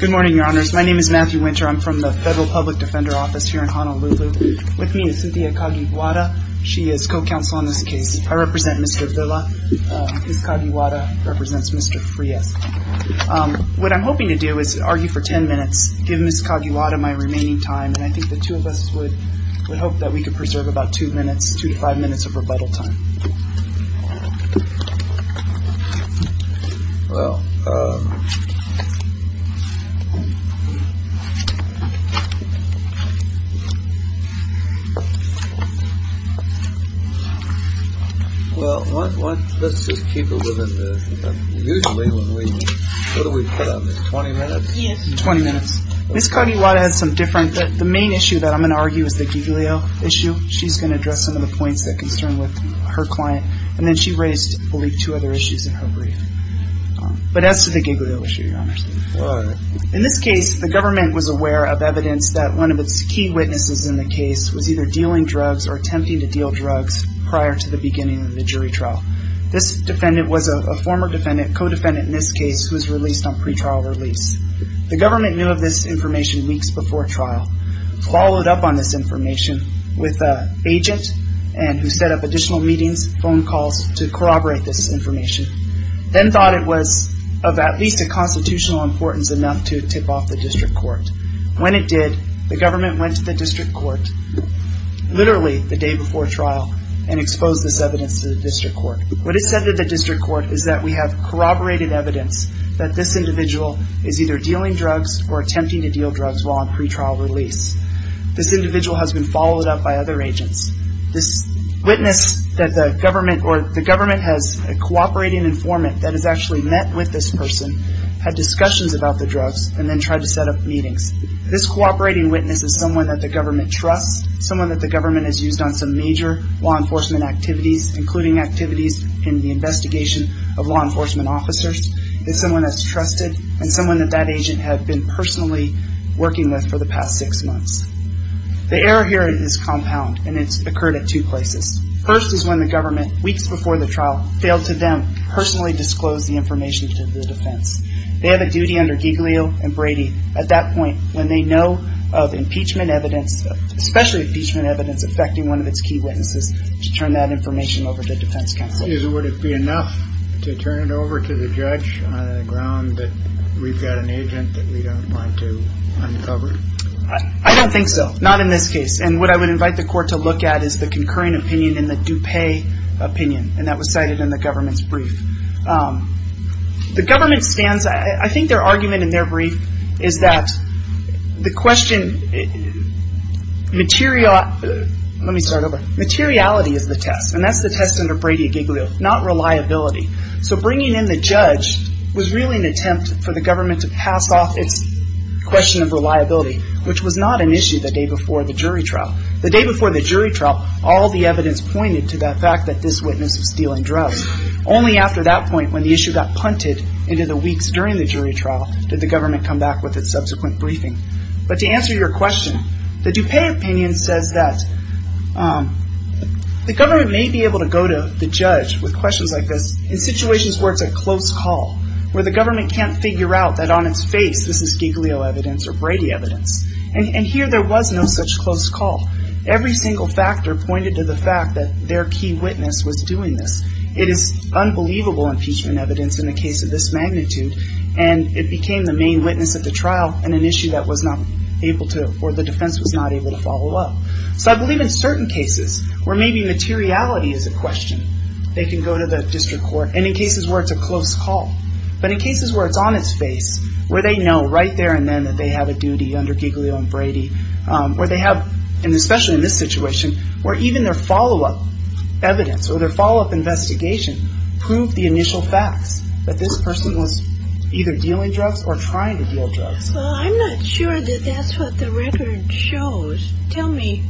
Good morning, your honors. My name is Matthew Winter. I'm from the Federal Public Defender Office here in Honolulu. With me is Cynthia Cagiguada. She is co-counsel on this case. I represent Mr. Villa. Ms. Cagiguada represents Mr. Frias. What I'm hoping to do is argue for ten minutes, give Ms. Cagiguada my remaining time, and I think the two of us would hope that we could preserve about two minutes, two to five minutes of rebuttal time. Well, let's just keep it within the – usually when we – what do we put on this, 20 minutes? Yes, 20 minutes. Ms. Cagiguada has some different – the main issue that I'm going to argue is the Giglio issue. She's going to address some of the points that concern her client. And then she raised, I believe, two other issues in her brief. But as to the Giglio issue, your honors, in this case, the government was aware of evidence that one of its key witnesses in the case was either dealing drugs or attempting to deal drugs prior to the beginning of the jury trial. This defendant was a former defendant, co-defendant in this case, who was released on pretrial release. The government knew of this information weeks before trial, followed up on this information with an agent who set up additional meetings, phone calls to corroborate this information, then thought it was of at least a constitutional importance enough to tip off the district court. When it did, the government went to the district court, literally the day before trial, and exposed this evidence to the district court. What is said to the district court is that we have corroborated evidence that this individual is either dealing drugs or attempting to deal drugs while on pretrial release. This individual has been followed up by other agents. This witness that the government – or the government has a cooperating informant that has actually met with this person, had discussions about the drugs, and then tried to set up meetings. This cooperating witness is someone that the government trusts, someone that the government has used on some major law enforcement activities, including activities in the investigation of law enforcement officers, is someone that's trusted, and someone that that agent had been personally working with for the past six months. The error here is compound, and it's occurred at two places. First is when the government, weeks before the trial, failed to then personally disclose the information to the defense. They have a duty under Giglio and Brady at that point when they know of impeachment evidence, especially impeachment evidence affecting one of its key witnesses, to turn that information over to defense counsel. Would it be enough to turn it over to the judge on the ground that we've got an agent that we don't want to uncover? I don't think so. Not in this case. And what I would invite the court to look at is the concurring opinion in the DuPay opinion, The government stands, I think their argument in their brief is that the question, materiality is the test, and that's the test under Brady at Giglio, not reliability. So bringing in the judge was really an attempt for the government to pass off its question of reliability, which was not an issue the day before the jury trial. The day before the jury trial, all the evidence pointed to that fact that this witness was stealing drugs. Only after that point, when the issue got punted into the weeks during the jury trial, did the government come back with its subsequent briefing. But to answer your question, the DuPay opinion says that the government may be able to go to the judge with questions like this in situations where it's a close call, where the government can't figure out that on its face this is Giglio evidence or Brady evidence. And here there was no such close call. Every single factor pointed to the fact that their key witness was doing this. It is unbelievable impeachment evidence in a case of this magnitude, and it became the main witness of the trial in an issue that was not able to, or the defense was not able to follow up. So I believe in certain cases where maybe materiality is a question, they can go to the district court, and in cases where it's a close call. But in cases where it's on its face, where they know right there and then that they have a duty under Giglio and Brady, where they have, and especially in this situation, where even their follow-up evidence or their follow-up investigation proved the initial facts that this person was either dealing drugs or trying to deal drugs. Well, I'm not sure that that's what the record shows. Tell me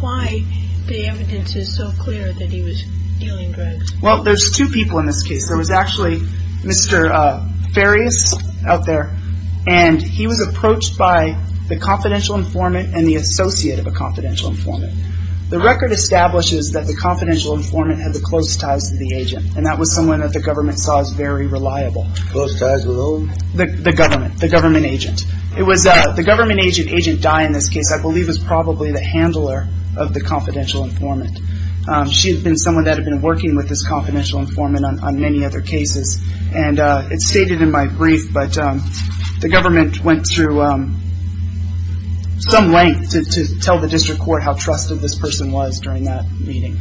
why the evidence is so clear that he was dealing drugs. Well, there's two people in this case. There was actually Mr. Farias out there, and he was approached by the confidential informant and the associate of a confidential informant. The record establishes that the confidential informant had the closest ties to the agent, and that was someone that the government saw as very reliable. Close ties with who? The government, the government agent. It was the government agent, agent Dye in this case, I believe was probably the handler of the confidential informant. She had been someone that had been working with this confidential informant on many other cases, and it's stated in my brief, but the government went through some length to tell the district court how trusted this person was during that meeting.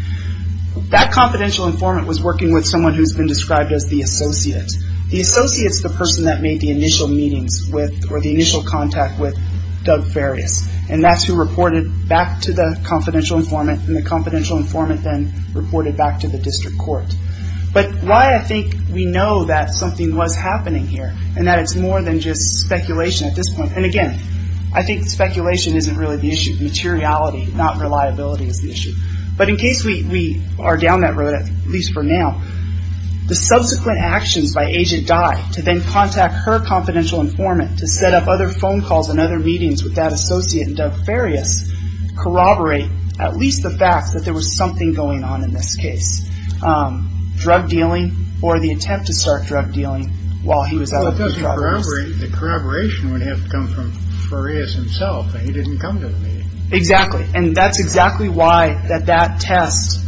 That confidential informant was working with someone who's been described as the associate. The associate's the person that made the initial meetings with or the initial contact with Doug Farias, and that's who reported back to the confidential informant, and the confidential informant then reported back to the district court. But why I think we know that something was happening here, and that it's more than just speculation at this point, and again, I think speculation isn't really the issue. Materiality, not reliability, is the issue. But in case we are down that road, at least for now, the subsequent actions by agent Dye to then contact her confidential informant to set up other phone calls and other meetings with that associate and Doug Farias corroborate at least the fact that there was something going on in this case. Drug dealing or the attempt to start drug dealing while he was out with the drug dealers. The corroboration would have to come from Farias himself, and he didn't come to the meeting. Exactly, and that's exactly why that that test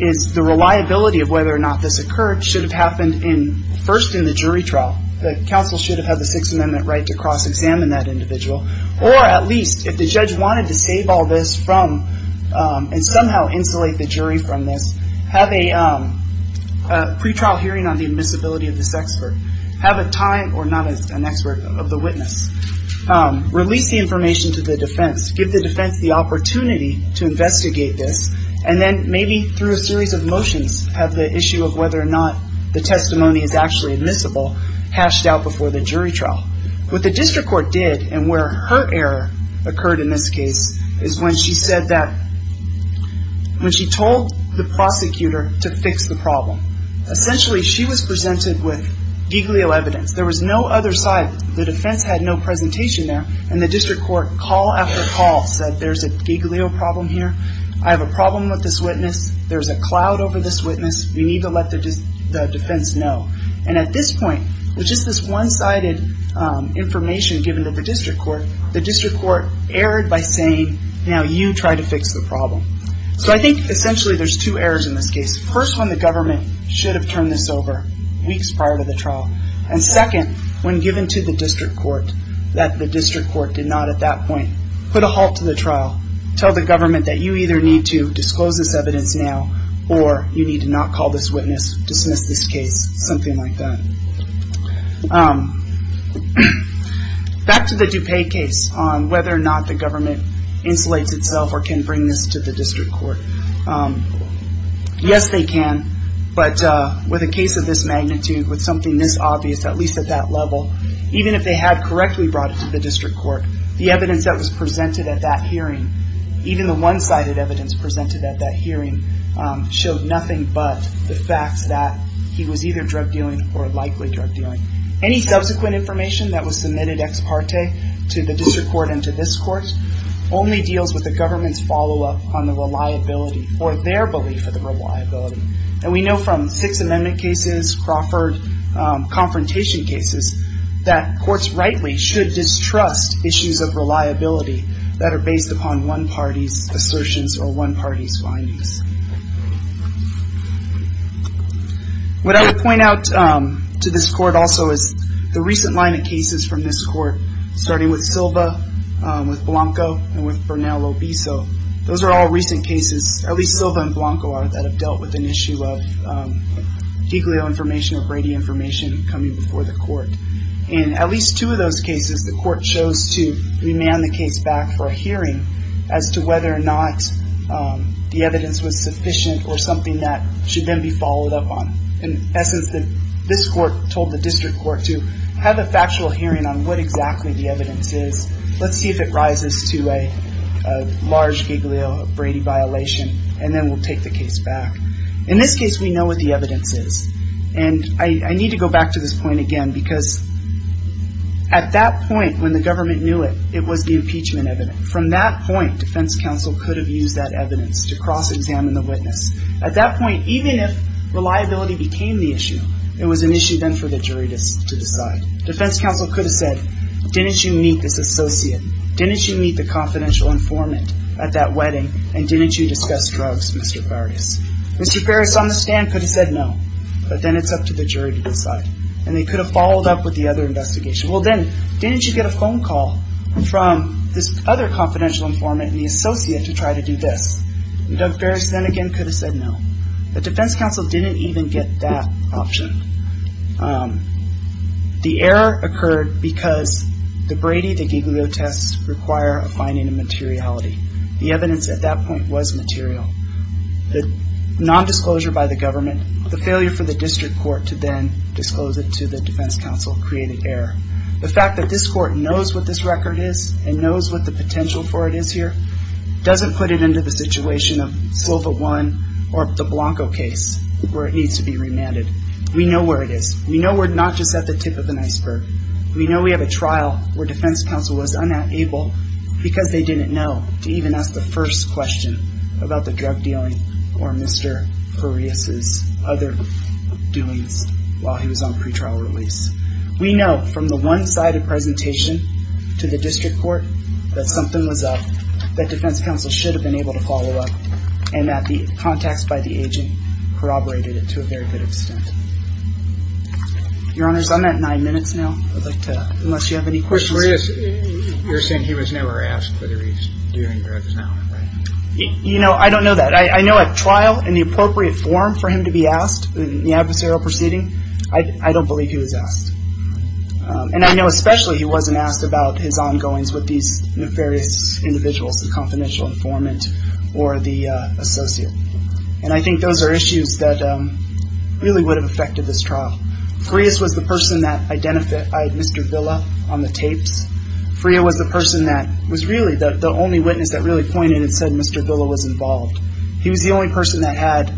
is the reliability of whether or not this occurred should have happened first in the jury trial. The counsel should have had the Sixth Amendment right to cross-examine that individual, or at least if the judge wanted to save all this from and somehow insulate the jury from this, have a pretrial hearing on the admissibility of this expert. Have a time, or not an expert, of the witness. Release the information to the defense. Give the defense the opportunity to investigate this, and then maybe through a series of motions have the issue of whether or not the testimony is actually admissible hashed out before the jury trial. What the district court did, and where her error occurred in this case, is when she said that when she told the prosecutor to fix the problem, essentially she was presented with giglio evidence. There was no other side. The defense had no presentation there, and the district court call after call said, there's a giglio problem here. I have a problem with this witness. There's a cloud over this witness. We need to let the defense know. And at this point, with just this one-sided information given to the district court, the district court erred by saying, now you try to fix the problem. So I think essentially there's two errors in this case. First, when the government should have turned this over weeks prior to the trial. And second, when given to the district court that the district court did not at that point put a halt to the trial, tell the government that you either need to disclose this evidence now or you need to not call this witness, dismiss this case, something like that. Back to the DuPage case on whether or not the government insulates itself or can bring this to the district court. Yes, they can. But with a case of this magnitude, with something this obvious, at least at that level, even if they had correctly brought it to the district court, the evidence that was presented at that hearing, even the one-sided evidence presented at that hearing, showed nothing but the facts that he was either drug dealing or likely drug dealing. Any subsequent information that was submitted ex parte to the district court and to this court only deals with the government's follow-up on the reliability or their belief of the reliability. And we know from Sixth Amendment cases, Crawford confrontation cases, that courts rightly should distrust issues of reliability that are based upon one party's assertions or one party's findings. What I would point out to this court also is the recent line of cases from this court, starting with Silva, with Blanco, and with Bernal Lobiso. Those are all recent cases, at least Silva and Blanco are, that have dealt with an issue of Giglio information or Brady information coming before the court. In at least two of those cases, the court chose to remand the case back for a hearing as to whether or not the evidence was sufficient or something that should then be followed up on. In essence, this court told the district court to have a factual hearing on what exactly the evidence is, let's see if it rises to a large Giglio or Brady violation, and then we'll take the case back. In this case, we know what the evidence is. And I need to go back to this point again because at that point when the government knew it, it was the impeachment evidence. From that point, defense counsel could have used that evidence to cross-examine the witness. At that point, even if reliability became the issue, it was an issue then for the jury to decide. Defense counsel could have said, didn't you meet this associate? Didn't you meet the confidential informant at that wedding? And didn't you discuss drugs, Mr. Farias? Mr. Farias on the stand could have said no, but then it's up to the jury to decide. And they could have followed up with the other investigation. Well then, didn't you get a phone call from this other confidential informant, the associate, to try to do this? And Doug Farias then again could have said no. But defense counsel didn't even get that option. The error occurred because the Brady, the Giglio tests require a finding of materiality. The evidence at that point was material. The nondisclosure by the government, the failure for the district court to then disclose it to the defense counsel created error. The fact that this court knows what this record is and knows what the potential for it is here doesn't put it into the situation of Silva 1 or the Blanco case where it needs to be remanded. We know where it is. We know we're not just at the tip of an iceberg. We know we have a trial where defense counsel was unable, because they didn't know, to even ask the first question about the drug dealing or Mr. Farias's other doings while he was on pretrial release. We know from the one-sided presentation to the district court that something was up, that defense counsel should have been able to follow up, and that the contacts by the agent corroborated it to a very good extent. Your Honors, I'm at nine minutes now. I'd like to, unless you have any questions. Mr. Farias, you're saying he was never asked whether he's doing drugs now, right? You know, I don't know that. I know at trial, in the appropriate form for him to be asked in the adversarial proceeding, I don't believe he was asked. And I know especially he wasn't asked about his ongoings with these nefarious individuals, the confidential informant or the associate. And I think those are issues that really would have affected this trial. Farias was the person that identified Mr. Villa on the tapes. Freya was the person that was really the only witness that really pointed and said Mr. Villa was involved. He was the only person that had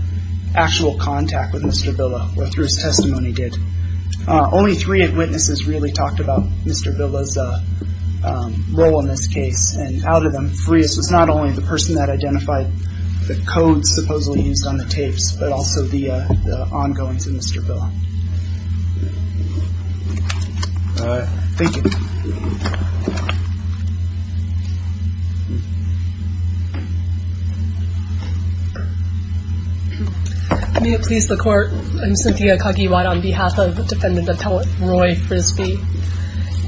actual contact with Mr. Villa, or through his testimony did. Only three witnesses really talked about Mr. Villa's role in this case, and out of them, Farias was not only the person that identified the codes supposedly used on the tapes, but also the ongoings of Mr. Villa. All right. Thank you. May it please the Court. I'm Cynthia Kagiwara on behalf of Defendant Appellate Roy Frisby.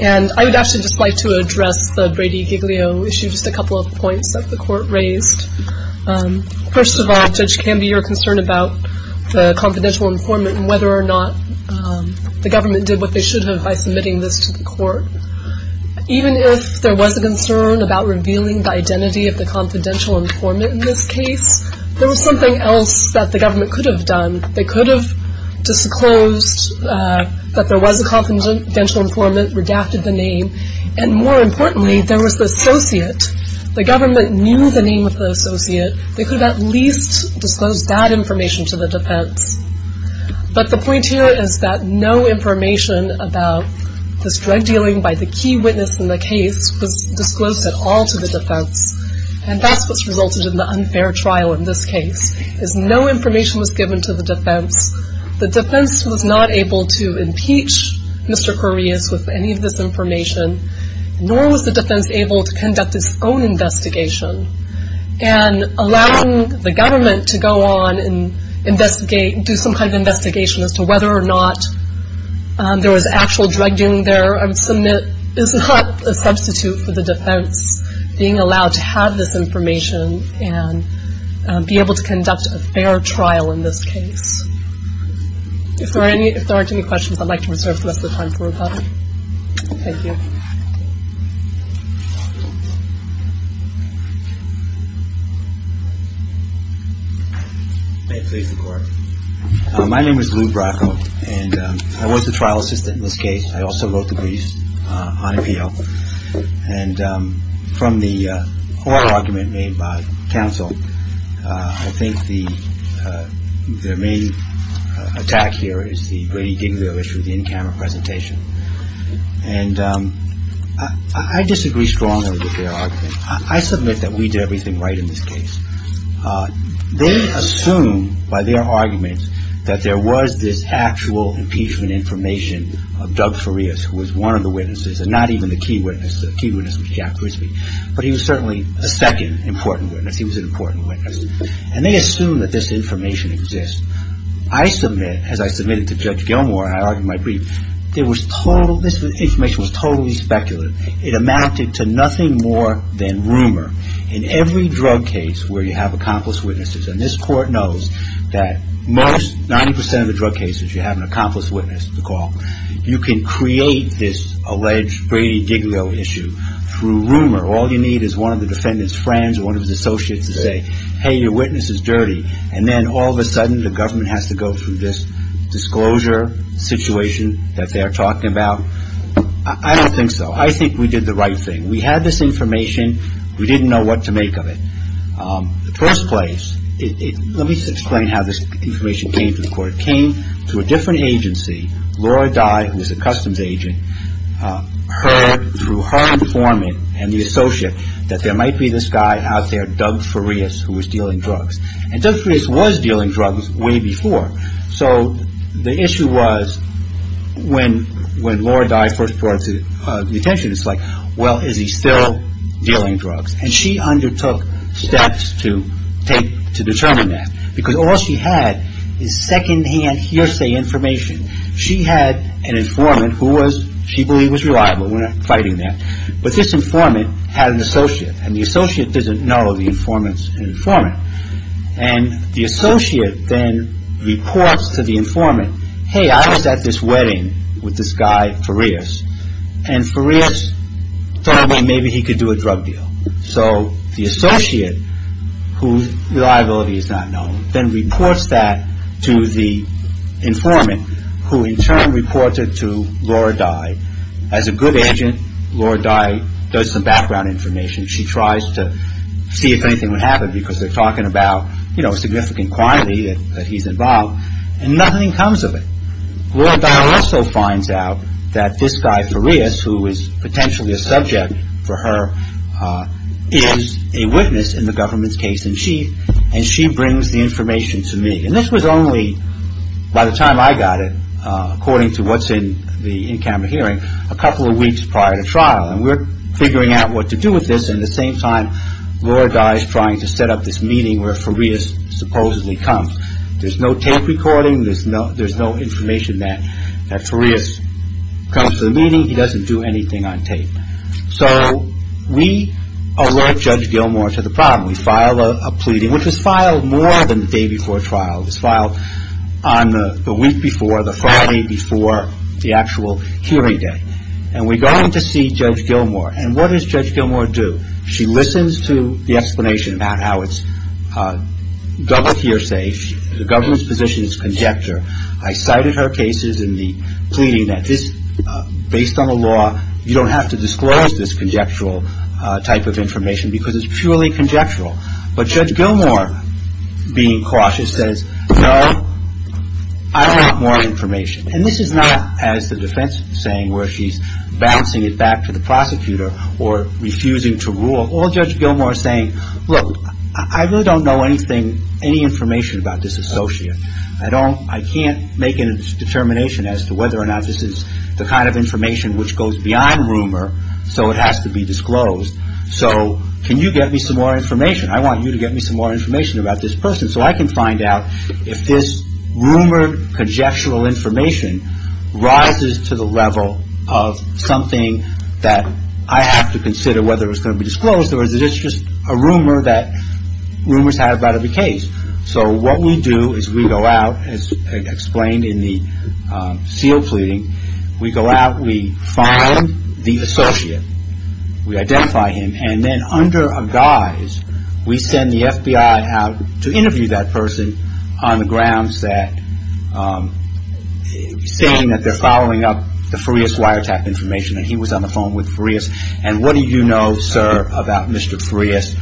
And I would actually just like to address the Brady-Giglio issue, just a couple of points that the Court raised. First of all, Judge Kamby, your concern about the confidential informant and whether or not the government did what they should have by submitting this to the Court. Even if there was a concern about revealing the identity of the confidential informant in this case, there was something else that the government could have done. They could have disclosed that there was a confidential informant, redacted the name, and more importantly, there was the associate. The government knew the name of the associate. They could have at least disclosed that information to the defense. But the point here is that no information about this drug dealing by the key witness in the case was disclosed at all to the defense. And that's what's resulted in the unfair trial in this case, is no information was given to the defense. The defense was not able to impeach Mr. Correas with any of this information, nor was the defense able to conduct its own investigation. And allowing the government to go on and investigate, do some kind of investigation as to whether or not there was actual drug dealing there, I would submit, is not a substitute for the defense being allowed to have this information and be able to conduct a fair trial in this case. If there aren't any questions, I'd like to reserve the rest of the time for rebuttal. Thank you. May it please the Court. My name is Lou Bracco, and I was the trial assistant in this case. I also wrote the briefs on appeal. And from the oral argument made by counsel, I think the main attack here is the Brady-Diglio issue, the in-camera presentation. And I disagree strongly with their argument. I submit that we did everything right in this case. They assume by their argument that there was this actual impeachment information of Doug Correas, who was one of the witnesses, and not even the key witness. The key witness was Jack Grisby. But he was certainly a second important witness. He was an important witness. And they assume that this information exists. I submit, as I submitted to Judge Gilmour, and I argued my brief, this information was totally speculative. It amounted to nothing more than rumor. In every drug case where you have accomplice witnesses, and this Court knows that most, 90 percent of the drug cases you have an accomplice witness, you can create this alleged Brady-Diglio issue through rumor. All you need is one of the defendant's friends or one of his associates to say, hey, your witness is dirty. And then all of a sudden the government has to go through this disclosure situation that they are talking about. I don't think so. I think we did the right thing. We had this information. We didn't know what to make of it. In the first place, let me just explain how this information came to the Court. It came to a different agency. Laura Dye, who was a customs agent, heard through her informant and the associate that there might be this guy out there, Doug Farias, who was dealing drugs. And Doug Farias was dealing drugs way before. So the issue was when Laura Dye first brought it to the attention, it's like, well, is he still dealing drugs? And she undertook steps to determine that. Because all she had is secondhand hearsay information. She had an informant who she believed was reliable. We're not fighting that. But this informant had an associate, and the associate doesn't know the informant's informant. And the associate then reports to the informant, hey, I was at this wedding with this guy, Farias, and Farias thought maybe he could do a drug deal. So the associate, whose reliability is not known, then reports that to the informant, who in turn reported to Laura Dye. As a good agent, Laura Dye does some background information. She tries to see if anything would happen because they're talking about, you know, a significant quantity that he's involved. And nothing comes of it. Laura Dye also finds out that this guy, Farias, who is potentially a subject for her, is a witness in the government's case-in-chief, and she brings the information to me. And this was only, by the time I got it, according to what's in the in-camera hearing, a couple of weeks prior to trial. And we're figuring out what to do with this, and at the same time, Laura Dye is trying to set up this meeting where Farias supposedly comes. There's no tape recording. There's no information that Farias comes to the meeting. He doesn't do anything on tape. So we alert Judge Gilmour to the problem. We file a pleading, which was filed more than the day before trial. It was filed on the week before, the Friday before the actual hearing day. And we go in to see Judge Gilmour. And what does Judge Gilmour do? She listens to the explanation about how it's double hearsay. The government's position is conjecture. I cited her cases in the pleading that just based on the law, you don't have to disclose this conjectural type of information because it's purely conjectural. But Judge Gilmour, being cautious, says, no, I want more information. And this is not, as the defense is saying, where she's bouncing it back to the prosecutor or refusing to rule. Or Judge Gilmour saying, look, I really don't know anything, any information about this associate. I can't make a determination as to whether or not this is the kind of information which goes beyond rumor, so it has to be disclosed. So can you get me some more information? I want you to get me some more information about this person so I can find out if this rumored conjectural information rises to the level of something that I have to consider whether it's going to be disclosed or is it just a rumor that rumors have out of the case. So what we do is we go out, as explained in the sealed pleading, we go out, we find the associate. We identify him. And then under a guise, we send the FBI out to interview that person on the grounds that, saying that they're following up the Farias wiretap information and he was on the phone with Farias. And what do you know, sir, about Mr. Farias?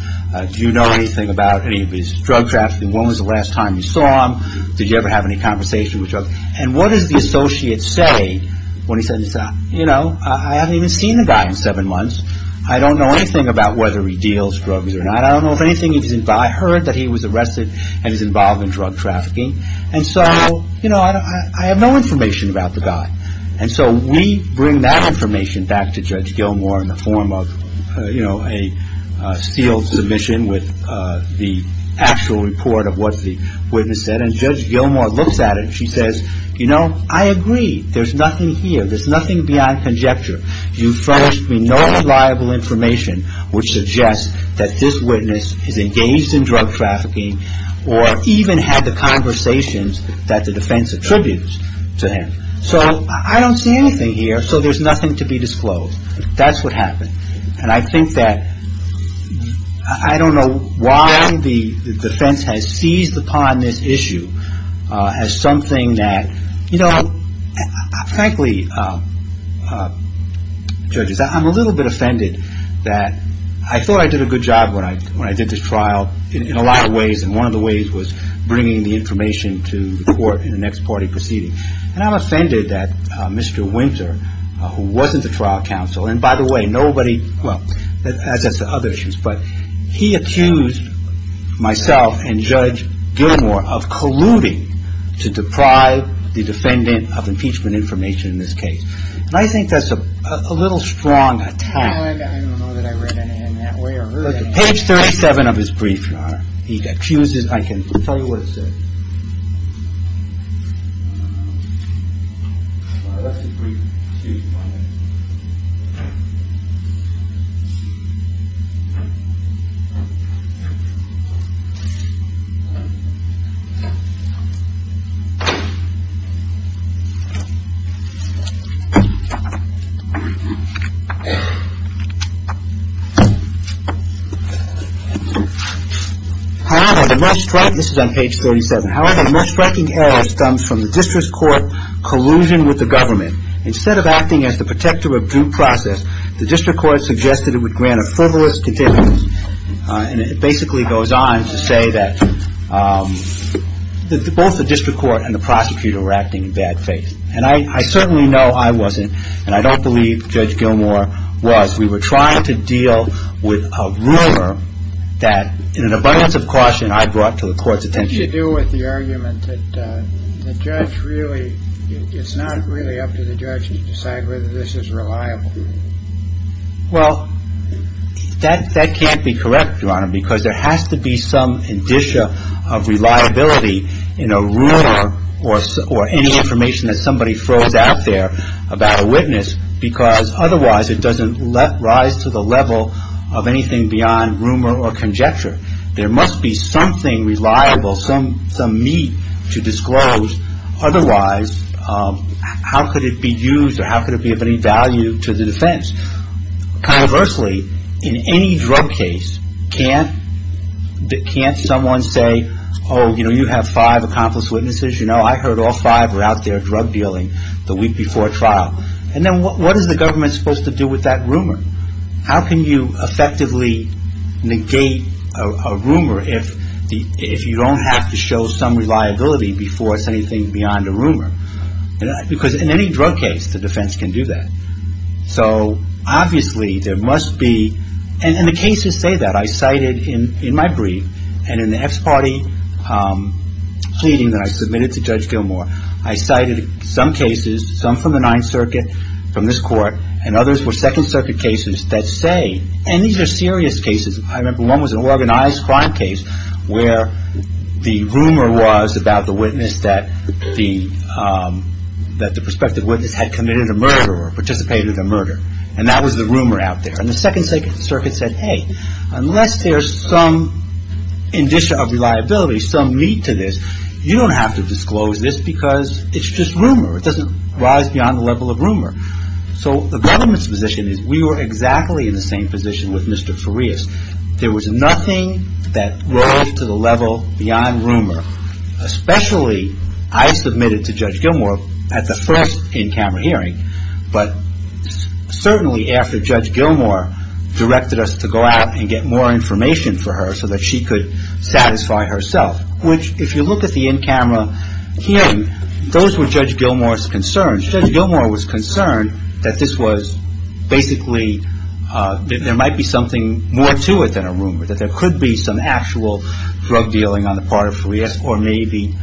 Do you know anything about any of his drug trafficking? When was the last time you saw him? Did you ever have any conversation with him? And what does the associate say when he says, you know, I haven't even seen the guy in seven months. I don't know anything about whether he deals drugs or not. I don't know if anything he does. I heard that he was arrested and is involved in drug trafficking. And so, you know, I have no information about the guy. And so we bring that information back to Judge Gilmour in the form of, you know, a sealed submission with the actual report of what the witness said. And Judge Gilmour looks at it and she says, you know, I agree. There's nothing here. There's nothing beyond conjecture. You furnished me no reliable information which suggests that this witness is engaged in drug trafficking or even had the conversations that the defense attributes to him. So I don't see anything here. So there's nothing to be disclosed. That's what happened. And I think that I don't know why the defense has seized upon this issue as something that, you know, frankly, judges, I'm a little bit offended that I thought I did a good job when I did this trial in a lot of ways. And one of the ways was bringing the information to the court in the next party proceeding. And I'm offended that Mr. Winter, who wasn't the trial counsel, and by the way, nobody, well, but he accused myself and Judge Gilmour of colluding to deprive the defendant of impeachment information in this case. And I think that's a little strong. I don't know that I read it in that way or page 37 of his brief. He accuses. I can tell you what. This is on page 37. However, the most striking error stems from the district court collusion with the government. Instead of acting as the protector of due process, the district court suggested it would grant a fivolous condition. And it basically goes on to say that both the district court and the prosecutor were acting in bad faith. And I certainly know I wasn't. And I don't believe Judge Gilmour was. We were trying to deal with a ruler that in an abundance of caution I brought to the court's attention. You do with the argument that the judge really it's not really up to the judge to decide whether this is reliable. Well, that that can't be correct. Your Honor, because there has to be some indicia of reliability in a room or or any information that somebody throws out there about a witness. Because otherwise it doesn't rise to the level of anything beyond rumor or conjecture. There must be something reliable, some some meat to disclose. Otherwise, how could it be used or how could it be of any value to the defense? Conversely, in any drug case, can't can't someone say, oh, you know, you have five accomplice witnesses. You know, I heard all five were out there drug dealing the week before trial. And then what is the government supposed to do with that rumor? How can you effectively negate a rumor if the if you don't have to show some reliability before it's anything beyond a rumor? Because in any drug case, the defense can do that. So obviously there must be. And the cases say that I cited in in my brief and in the party pleading that I submitted to Judge Gilmour. I cited some cases, some from the Ninth Circuit, from this court and others were Second Circuit cases that say. And these are serious cases. I remember one was an organized crime case where the rumor was about the witness that the that the prospective witness had committed a murder or participated in a murder. And that was the rumor out there. And the Second Circuit said, hey, unless there's some indicia of reliability, some meat to this. You don't have to disclose this because it's just rumor. It doesn't rise beyond the level of rumor. So the government's position is we were exactly in the same position with Mr. Farias. There was nothing that rose to the level beyond rumor, especially I submitted to Judge Gilmour at the first in-camera hearing. But certainly after Judge Gilmour directed us to go out and get more information for her so that she could satisfy herself, which if you look at the in-camera hearing, those were Judge Gilmour's concerns. Judge Gilmour was concerned that this was basically there might be something more to it than a rumor, that there could be some actual drug dealing on the part of Farias or maybe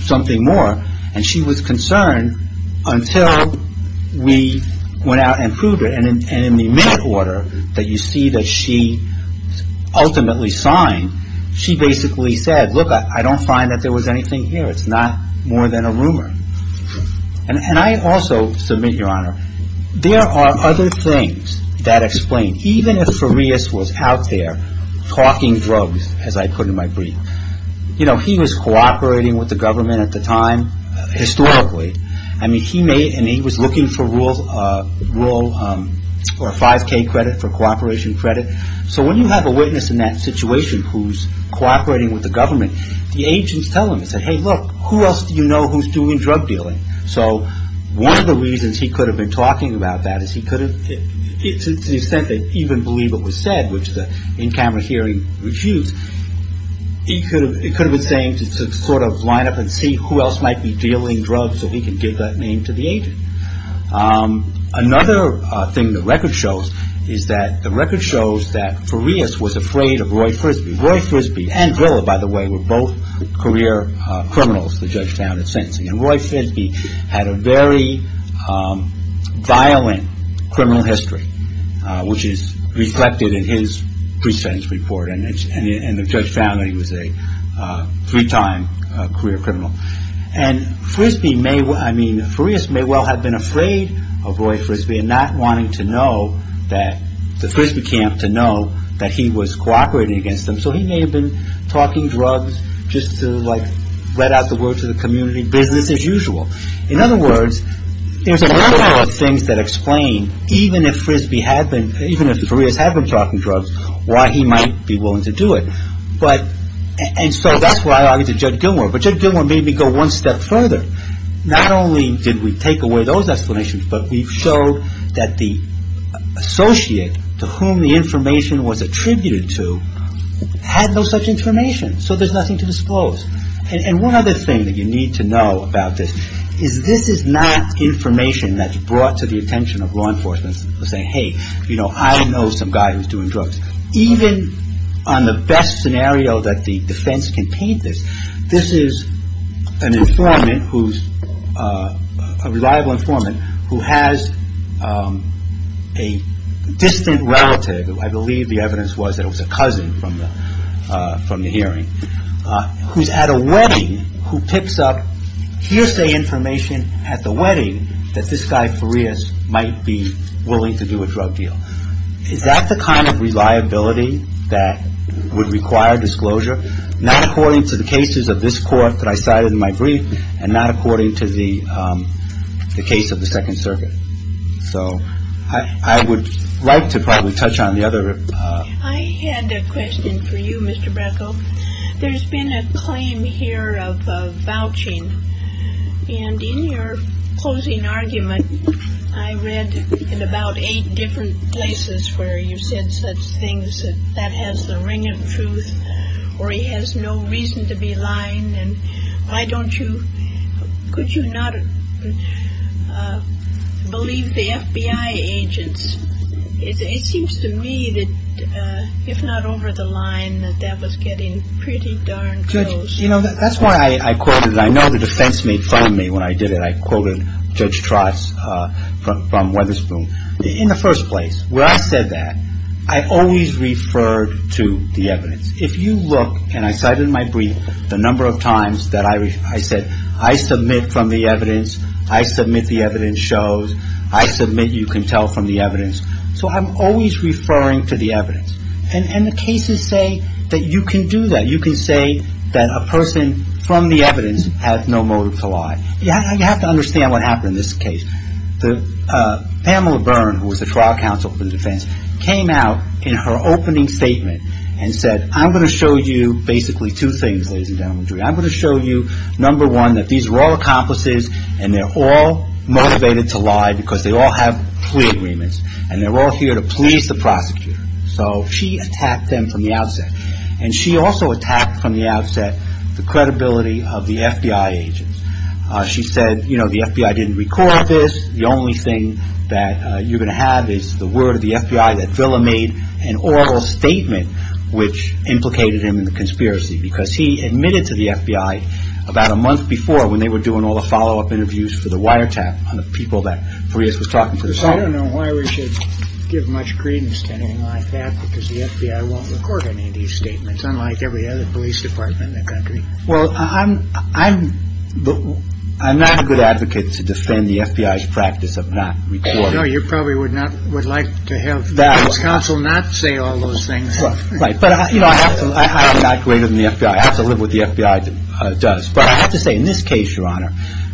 something more. And she was concerned until we went out and proved it. And in the minute order that you see that she ultimately signed, she basically said, look, I don't find that there was anything here. It's not more than a rumor. And I also submit, Your Honor, there are other things that explain. Even if Farias was out there talking drugs, as I put in my brief, you know, he was cooperating with the government at the time. Historically. I mean, he was looking for 5K credit, for cooperation credit. So when you have a witness in that situation who's cooperating with the government, the agents tell him, they say, hey, look, who else do you know who's doing drug dealing? So one of the reasons he could have been talking about that is he could have, to the extent they even believe it was said, which the in-camera hearing refutes, he could have, it could have been saying to sort of line up and see who else might be dealing drugs so he can give that name to the agent. Another thing the record shows is that the record shows that Farias was afraid of Roy Frisby. Roy Frisby and Villa, by the way, were both career criminals. And Roy Frisby had a very violent criminal history, which is reflected in his pre-sentence report. And the judge found that he was a three-time career criminal. And Frisby may, I mean, Farias may well have been afraid of Roy Frisby and not wanting to know that, the Frisby camp to know that he was cooperating against them. So he may have been talking drugs just to, like, let out the word to the community business as usual. In other words, there's a number of things that explain, even if Frisby had been, even if Farias had been talking drugs, why he might be willing to do it. But, and so that's why I argued to Judge Gilmour. But Judge Gilmour made me go one step further. Not only did we take away those explanations, but we showed that the associate to whom the information was attributed to had no such information. So there's nothing to disclose. And one other thing that you need to know about this is, this is not information that's brought to the attention of law enforcement saying, hey, you know, I know some guy who's doing drugs. Even on the best scenario that the defense can paint this, this is an informant who's a reliable informant who has a distant relative, I believe the evidence was that it was a cousin from the hearing, who's at a wedding, who picks up hearsay information at the wedding, that this guy, Farias, might be willing to do a drug deal. Is that the kind of reliability that would require disclosure? Not according to the cases of this court that I cited in my brief, and not according to the case of the Second Circuit. So I would like to probably touch on the other. I had a question for you, Mr. Bracco. There's been a claim here of vouching. And in your closing argument, I read in about eight different places where you said such things that that has the ring of truth, or he has no reason to be lying, and why don't you, could you not believe the FBI agents? It seems to me that, if not over the line, that that was getting pretty darn close. You know, that's why I quoted, I know the defense made fun of me when I did it, I quoted Judge Trotz from Weatherspoon. In the first place, where I said that, I always referred to the evidence. If you look, and I cited in my brief, the number of times that I said, I submit from the evidence, I submit the evidence shows, I submit you can tell from the evidence. So I'm always referring to the evidence. And the cases say that you can do that. You can say that a person from the evidence has no motive to lie. You have to understand what happened in this case. Pamela Byrne, who was the trial counsel for the defense, came out in her opening statement and said, I'm going to show you basically two things, ladies and gentlemen. I'm going to show you, number one, that these were all accomplices, and they're all motivated to lie because they all have plea agreements, and they're all here to please the prosecutor. So she attacked them from the outset. And she also attacked from the outset the credibility of the FBI agents. She said, you know, the FBI didn't record this. The only thing that you're going to have is the word of the FBI that Villa made an oral statement which implicated him in the conspiracy because he admitted to the FBI about a month before when they were doing all the follow-up interviews for the wiretap on the people that Farias was talking to. I don't know why we should give much credence to anything like that because the FBI won't record any of these statements, unlike every other police department in the country. Well, I'm not a good advocate to defend the FBI's practice of not recording. No, you probably would like to have the police council not say all those things. Right, but I'm not greater than the FBI. I have to live with what the FBI does. But I have to say, in this case, Your Honor,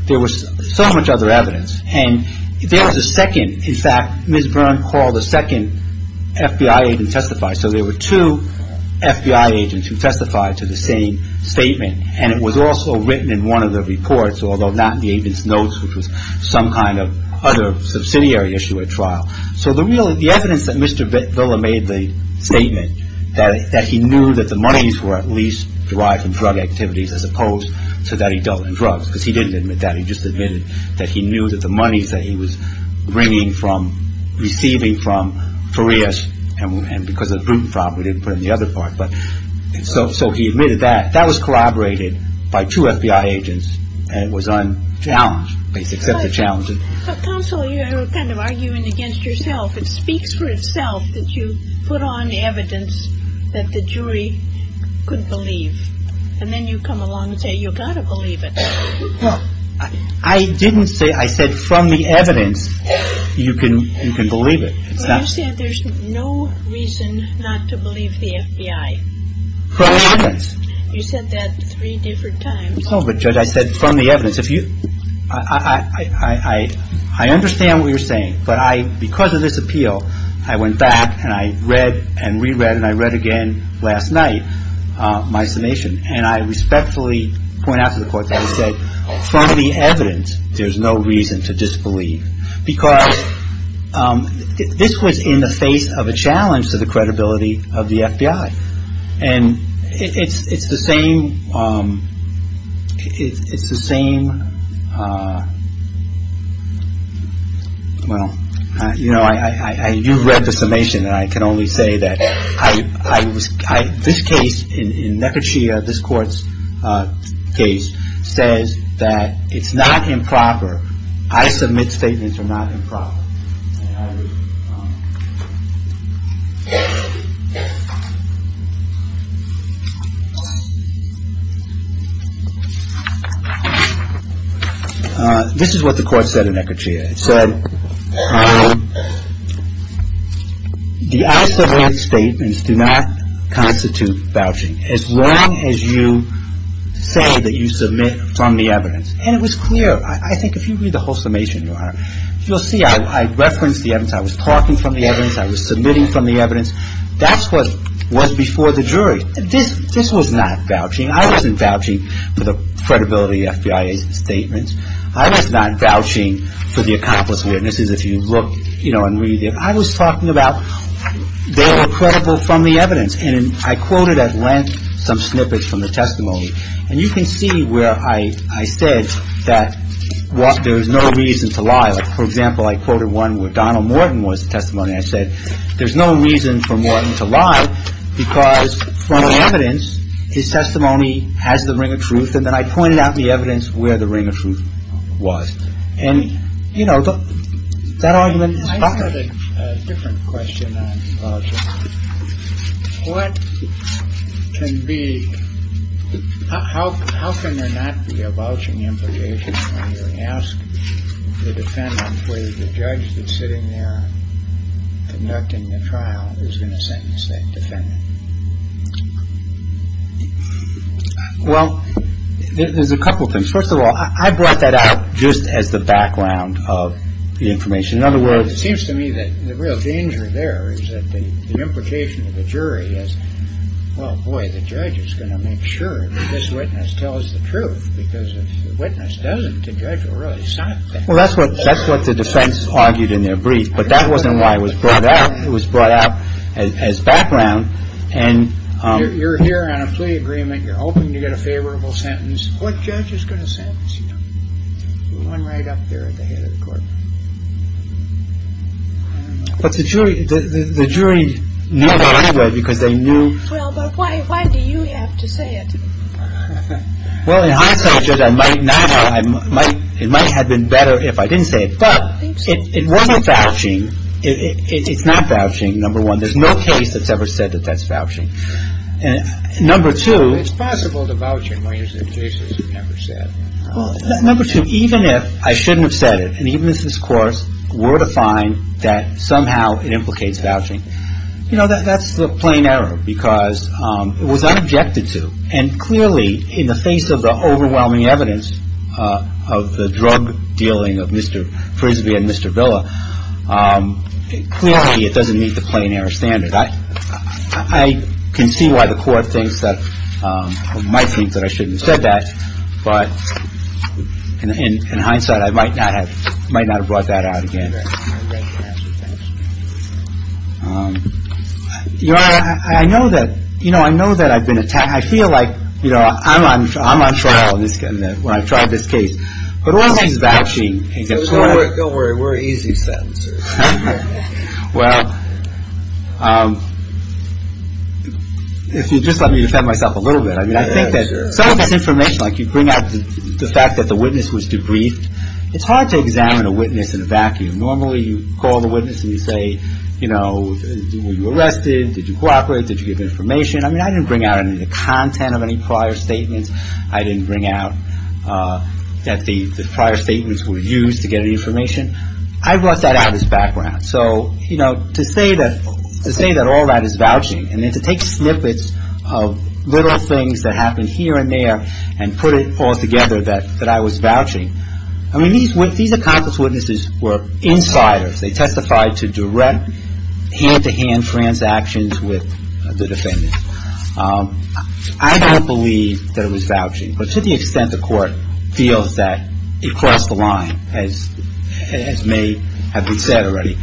there was so much other evidence. And there was a second. In fact, Ms. Byrne called a second FBI agent to testify. So there were two FBI agents who testified to the same statement. And it was also written in one of the reports, although not in the agent's notes, which was some kind of other subsidiary issue at trial. So the evidence that Mr. Villa made the statement, that he knew that the monies were at least derived from drug activities as opposed to that he dealt in drugs, because he didn't admit that. He just admitted that he knew that the monies that he was receiving from Farias and because of the Bruton fraud, we didn't put in the other part. So he admitted that. That was corroborated by two FBI agents. And it was unchallenged, except for challenges. Counsel, you're kind of arguing against yourself. It speaks for itself that you put on evidence that the jury could believe. And then you come along and say you've got to believe it. Well, I didn't say – I said from the evidence, you can believe it. Well, you said there's no reason not to believe the FBI. From the evidence. You said that three different times. Oh, but Judge, I said from the evidence. I understand what you're saying, but because of this appeal, I went back and I read and reread and I read again last night my summation. And I respectfully point out to the Court that I said from the evidence, there's no reason to disbelieve. Because this was in the face of a challenge to the credibility of the FBI. And it's the same – it's the same – well, you know, I – you read the summation. And I can only say that I – this case in Nekirchia, this Court's case, says that it's not improper. I submit statements are not improper. This is what the Court said in Nekirchia. It said the I submit statements do not constitute vouching. As long as you say that you submit from the evidence. And it was clear. I think if you read the whole summation, Your Honor, you'll see I referenced the evidence. I was talking from the evidence. I was submitting from the evidence. That's what was before the jury. This was not vouching. I wasn't vouching for the credibility of the FBI statements. I was not vouching for the accomplice witnesses, if you look, you know, and read it. I was talking about they were credible from the evidence. And I quoted at length some snippets from the testimony. And you can see where I said that there is no reason to lie. For example, I quoted one where Donald Morton was the testimony. I said there's no reason for Morton to lie because from the evidence, his testimony has the ring of truth. And then I pointed out the evidence where the ring of truth was. And, you know, that argument is proper. I had a different question on vouching. What can be. How can there not be a vouching implication when you ask the defendant, whether the judge that's sitting there conducting the trial is going to sentence that defendant? Well, there's a couple of things. First of all, I brought that out just as the background of the information. In other words, it seems to me that the real danger there is that the implication of the jury is, well, boy, the judge is going to make sure this witness tells the truth, because if the witness doesn't, the judge will really stop that. Well, that's what that's what the defense argued in their brief. But that wasn't why it was brought out. It was brought out as background. And you're here on a plea agreement. You're hoping to get a favorable sentence. What judge is going to sentence you? One right up there at the head of the court. But the jury, the jury knew about it because they knew. Well, but why? Why do you have to say it? Well, in hindsight, I might not. I might it might have been better if I didn't say it. But it wasn't vouching. It's not vouching. Number one, there's no case that's ever said that that's vouching. And number two, it's possible to vouch in ways that cases have never said. Well, number two, even if I shouldn't have said it, and even if this court were to find that somehow it implicates vouching, you know, that's the plain error because it was unobjected to. And clearly, in the face of the overwhelming evidence of the drug dealing of Mr. Frisbee and Mr. Villa, clearly it doesn't meet the plain error standard. I can see why the court thinks that or might think that I shouldn't have said that. But in hindsight, I might not have might not have brought that out again. You know, I know that, you know, I know that I've been attacked. I feel like, you know, I'm I'm I'm on trial. This is when I tried this case. But all this is vouching. Don't worry. We're easy. Well, if you just let me defend myself a little bit. I mean, I think that some of this information, like you bring out the fact that the witness was debriefed. It's hard to examine a witness in a vacuum. Normally you call the witness and you say, you know, were you arrested? Did you cooperate? Did you give information? I mean, I didn't bring out any of the content of any prior statements. I didn't bring out that the prior statements were used to get any information. I brought that out as background. So, you know, to say that to say that all that is vouching and then to take snippets of little things that happen here and there and put it all together, that that I was vouching, I mean, he's with these accomplice witnesses were insiders. They testified to direct hand to hand transactions with the defendant. I don't believe that it was vouching. But to the extent the court feels that it crossed the line as it may have been said already,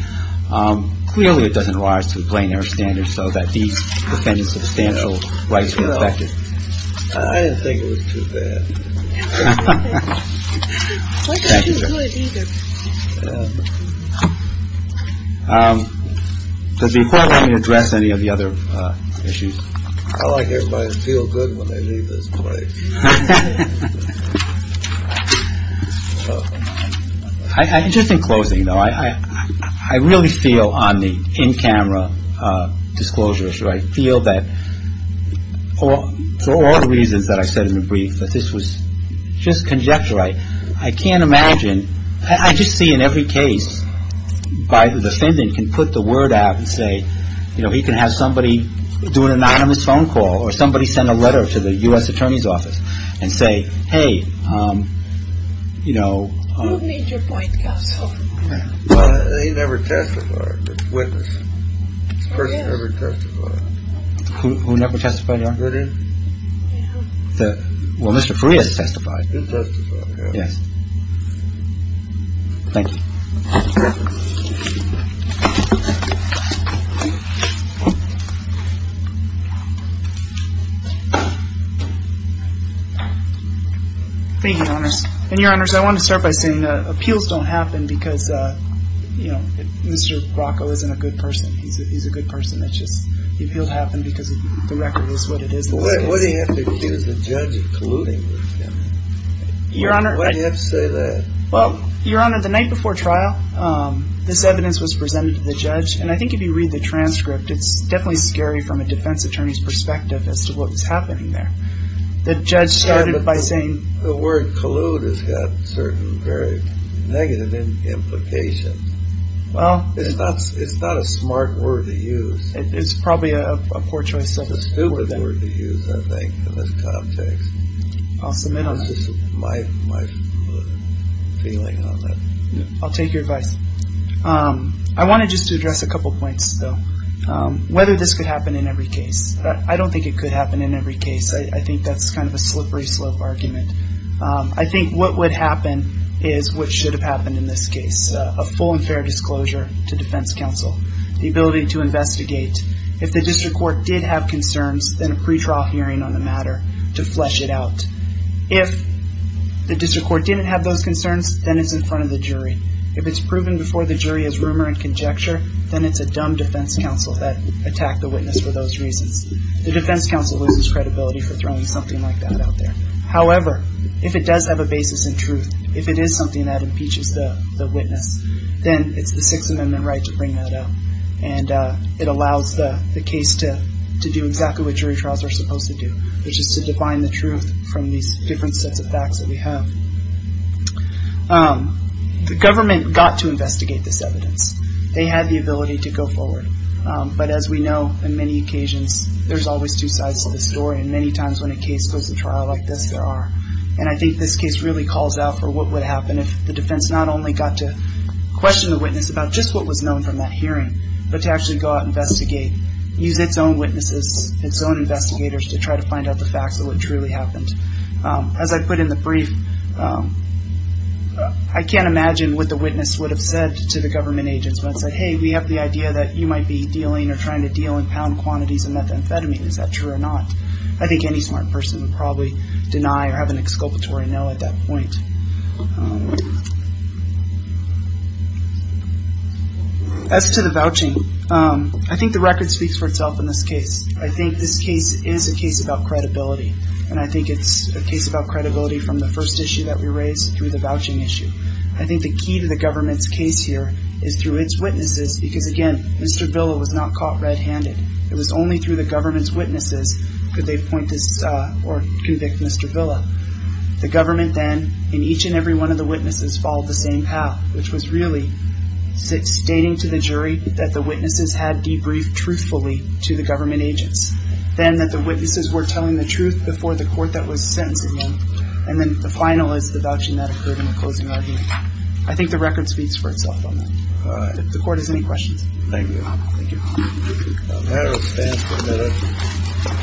clearly it doesn't rise to the plain air standards so that these defendants substantial rights were affected. I think it was too bad. Does the court let me address any of the other issues? I like everybody to feel good when they leave this place. Just in closing, though, I really feel on the in-camera disclosures. I feel that for all the reasons that I said in the brief, that this was just conjecture. I can't imagine. I just see in every case by the defendant can put the word out and say, you know, he can have somebody do an anonymous phone call or somebody send a letter to the U.S. attorney's office and say, hey, you know, they never testified. Who never testified? Well, Mr. Freer testified. Yes. Thank you. And your honor, I want to start by saying the appeals don't happen because, you know, Mr. Bracco isn't a good person. He's a good person. It's just the appeal happened because the record is what it is. Why do you have to accuse the judge of colluding with him? Your honor. Why do you have to say that? Well, your honor, the night before trial, this evidence was presented to the judge. And I think if you read the transcript, it's definitely scary from a defense attorney's perspective as to what was happening there. The judge started by saying. The word collude has got certain very negative implications. It's not a smart word to use. It's probably a poor choice. It's a stupid word to use, I think, in this context. I'll submit on that. It's just my feeling on that. I'll take your advice. I want to just address a couple of points, though. Whether this could happen in every case. I don't think it could happen in every case. I think that's kind of a slippery slope argument. I think what would happen is what should have happened in this case. A full and fair disclosure to defense counsel. The ability to investigate. If the district court did have concerns, then a pretrial hearing on the matter to flesh it out. If the district court didn't have those concerns, then it's in front of the jury. If it's proven before the jury as rumor and conjecture, then it's a dumb defense counsel that attacked the witness for those reasons. The defense counsel loses credibility for throwing something like that out there. However, if it does have a basis in truth, if it is something that impeaches the witness, then it's the Sixth Amendment right to bring that up. And it allows the case to do exactly what jury trials are supposed to do, which is to define the truth from these different sets of facts that we have. The government got to investigate this evidence. They had the ability to go forward. But as we know, in many occasions, there's always two sides to the story. And many times when a case goes to trial like this, there are. And I think this case really calls out for what would happen if the defense not only got to question the witness about just what was known from that hearing, but to actually go out and investigate, use its own witnesses, its own investigators to try to find out the facts of what truly happened. As I put in the brief, I can't imagine what the witness would have said to the government agents. Hey, we have the idea that you might be dealing or trying to deal in pound quantities of methamphetamine. Is that true or not? I think any smart person would probably deny or have an exculpatory no at that point. As to the vouching, I think the record speaks for itself in this case. I think this case is a case about credibility. And I think it's a case about credibility from the first issue that we raised through the vouching issue. I think the key to the government's case here is through its witnesses because, again, Mr. Villa was not caught red-handed. It was only through the government's witnesses could they point this or convict Mr. Villa. The government then, in each and every one of the witnesses, followed the same path, which was really stating to the jury that the witnesses had debriefed truthfully to the government agents, then that the witnesses were telling the truth before the court that was sentencing them, and then the final is the vouching that occurred in the closing argument. I think the record speaks for itself on that. All right. If the Court has any questions. Thank you. Thank you. The matter stands permitted.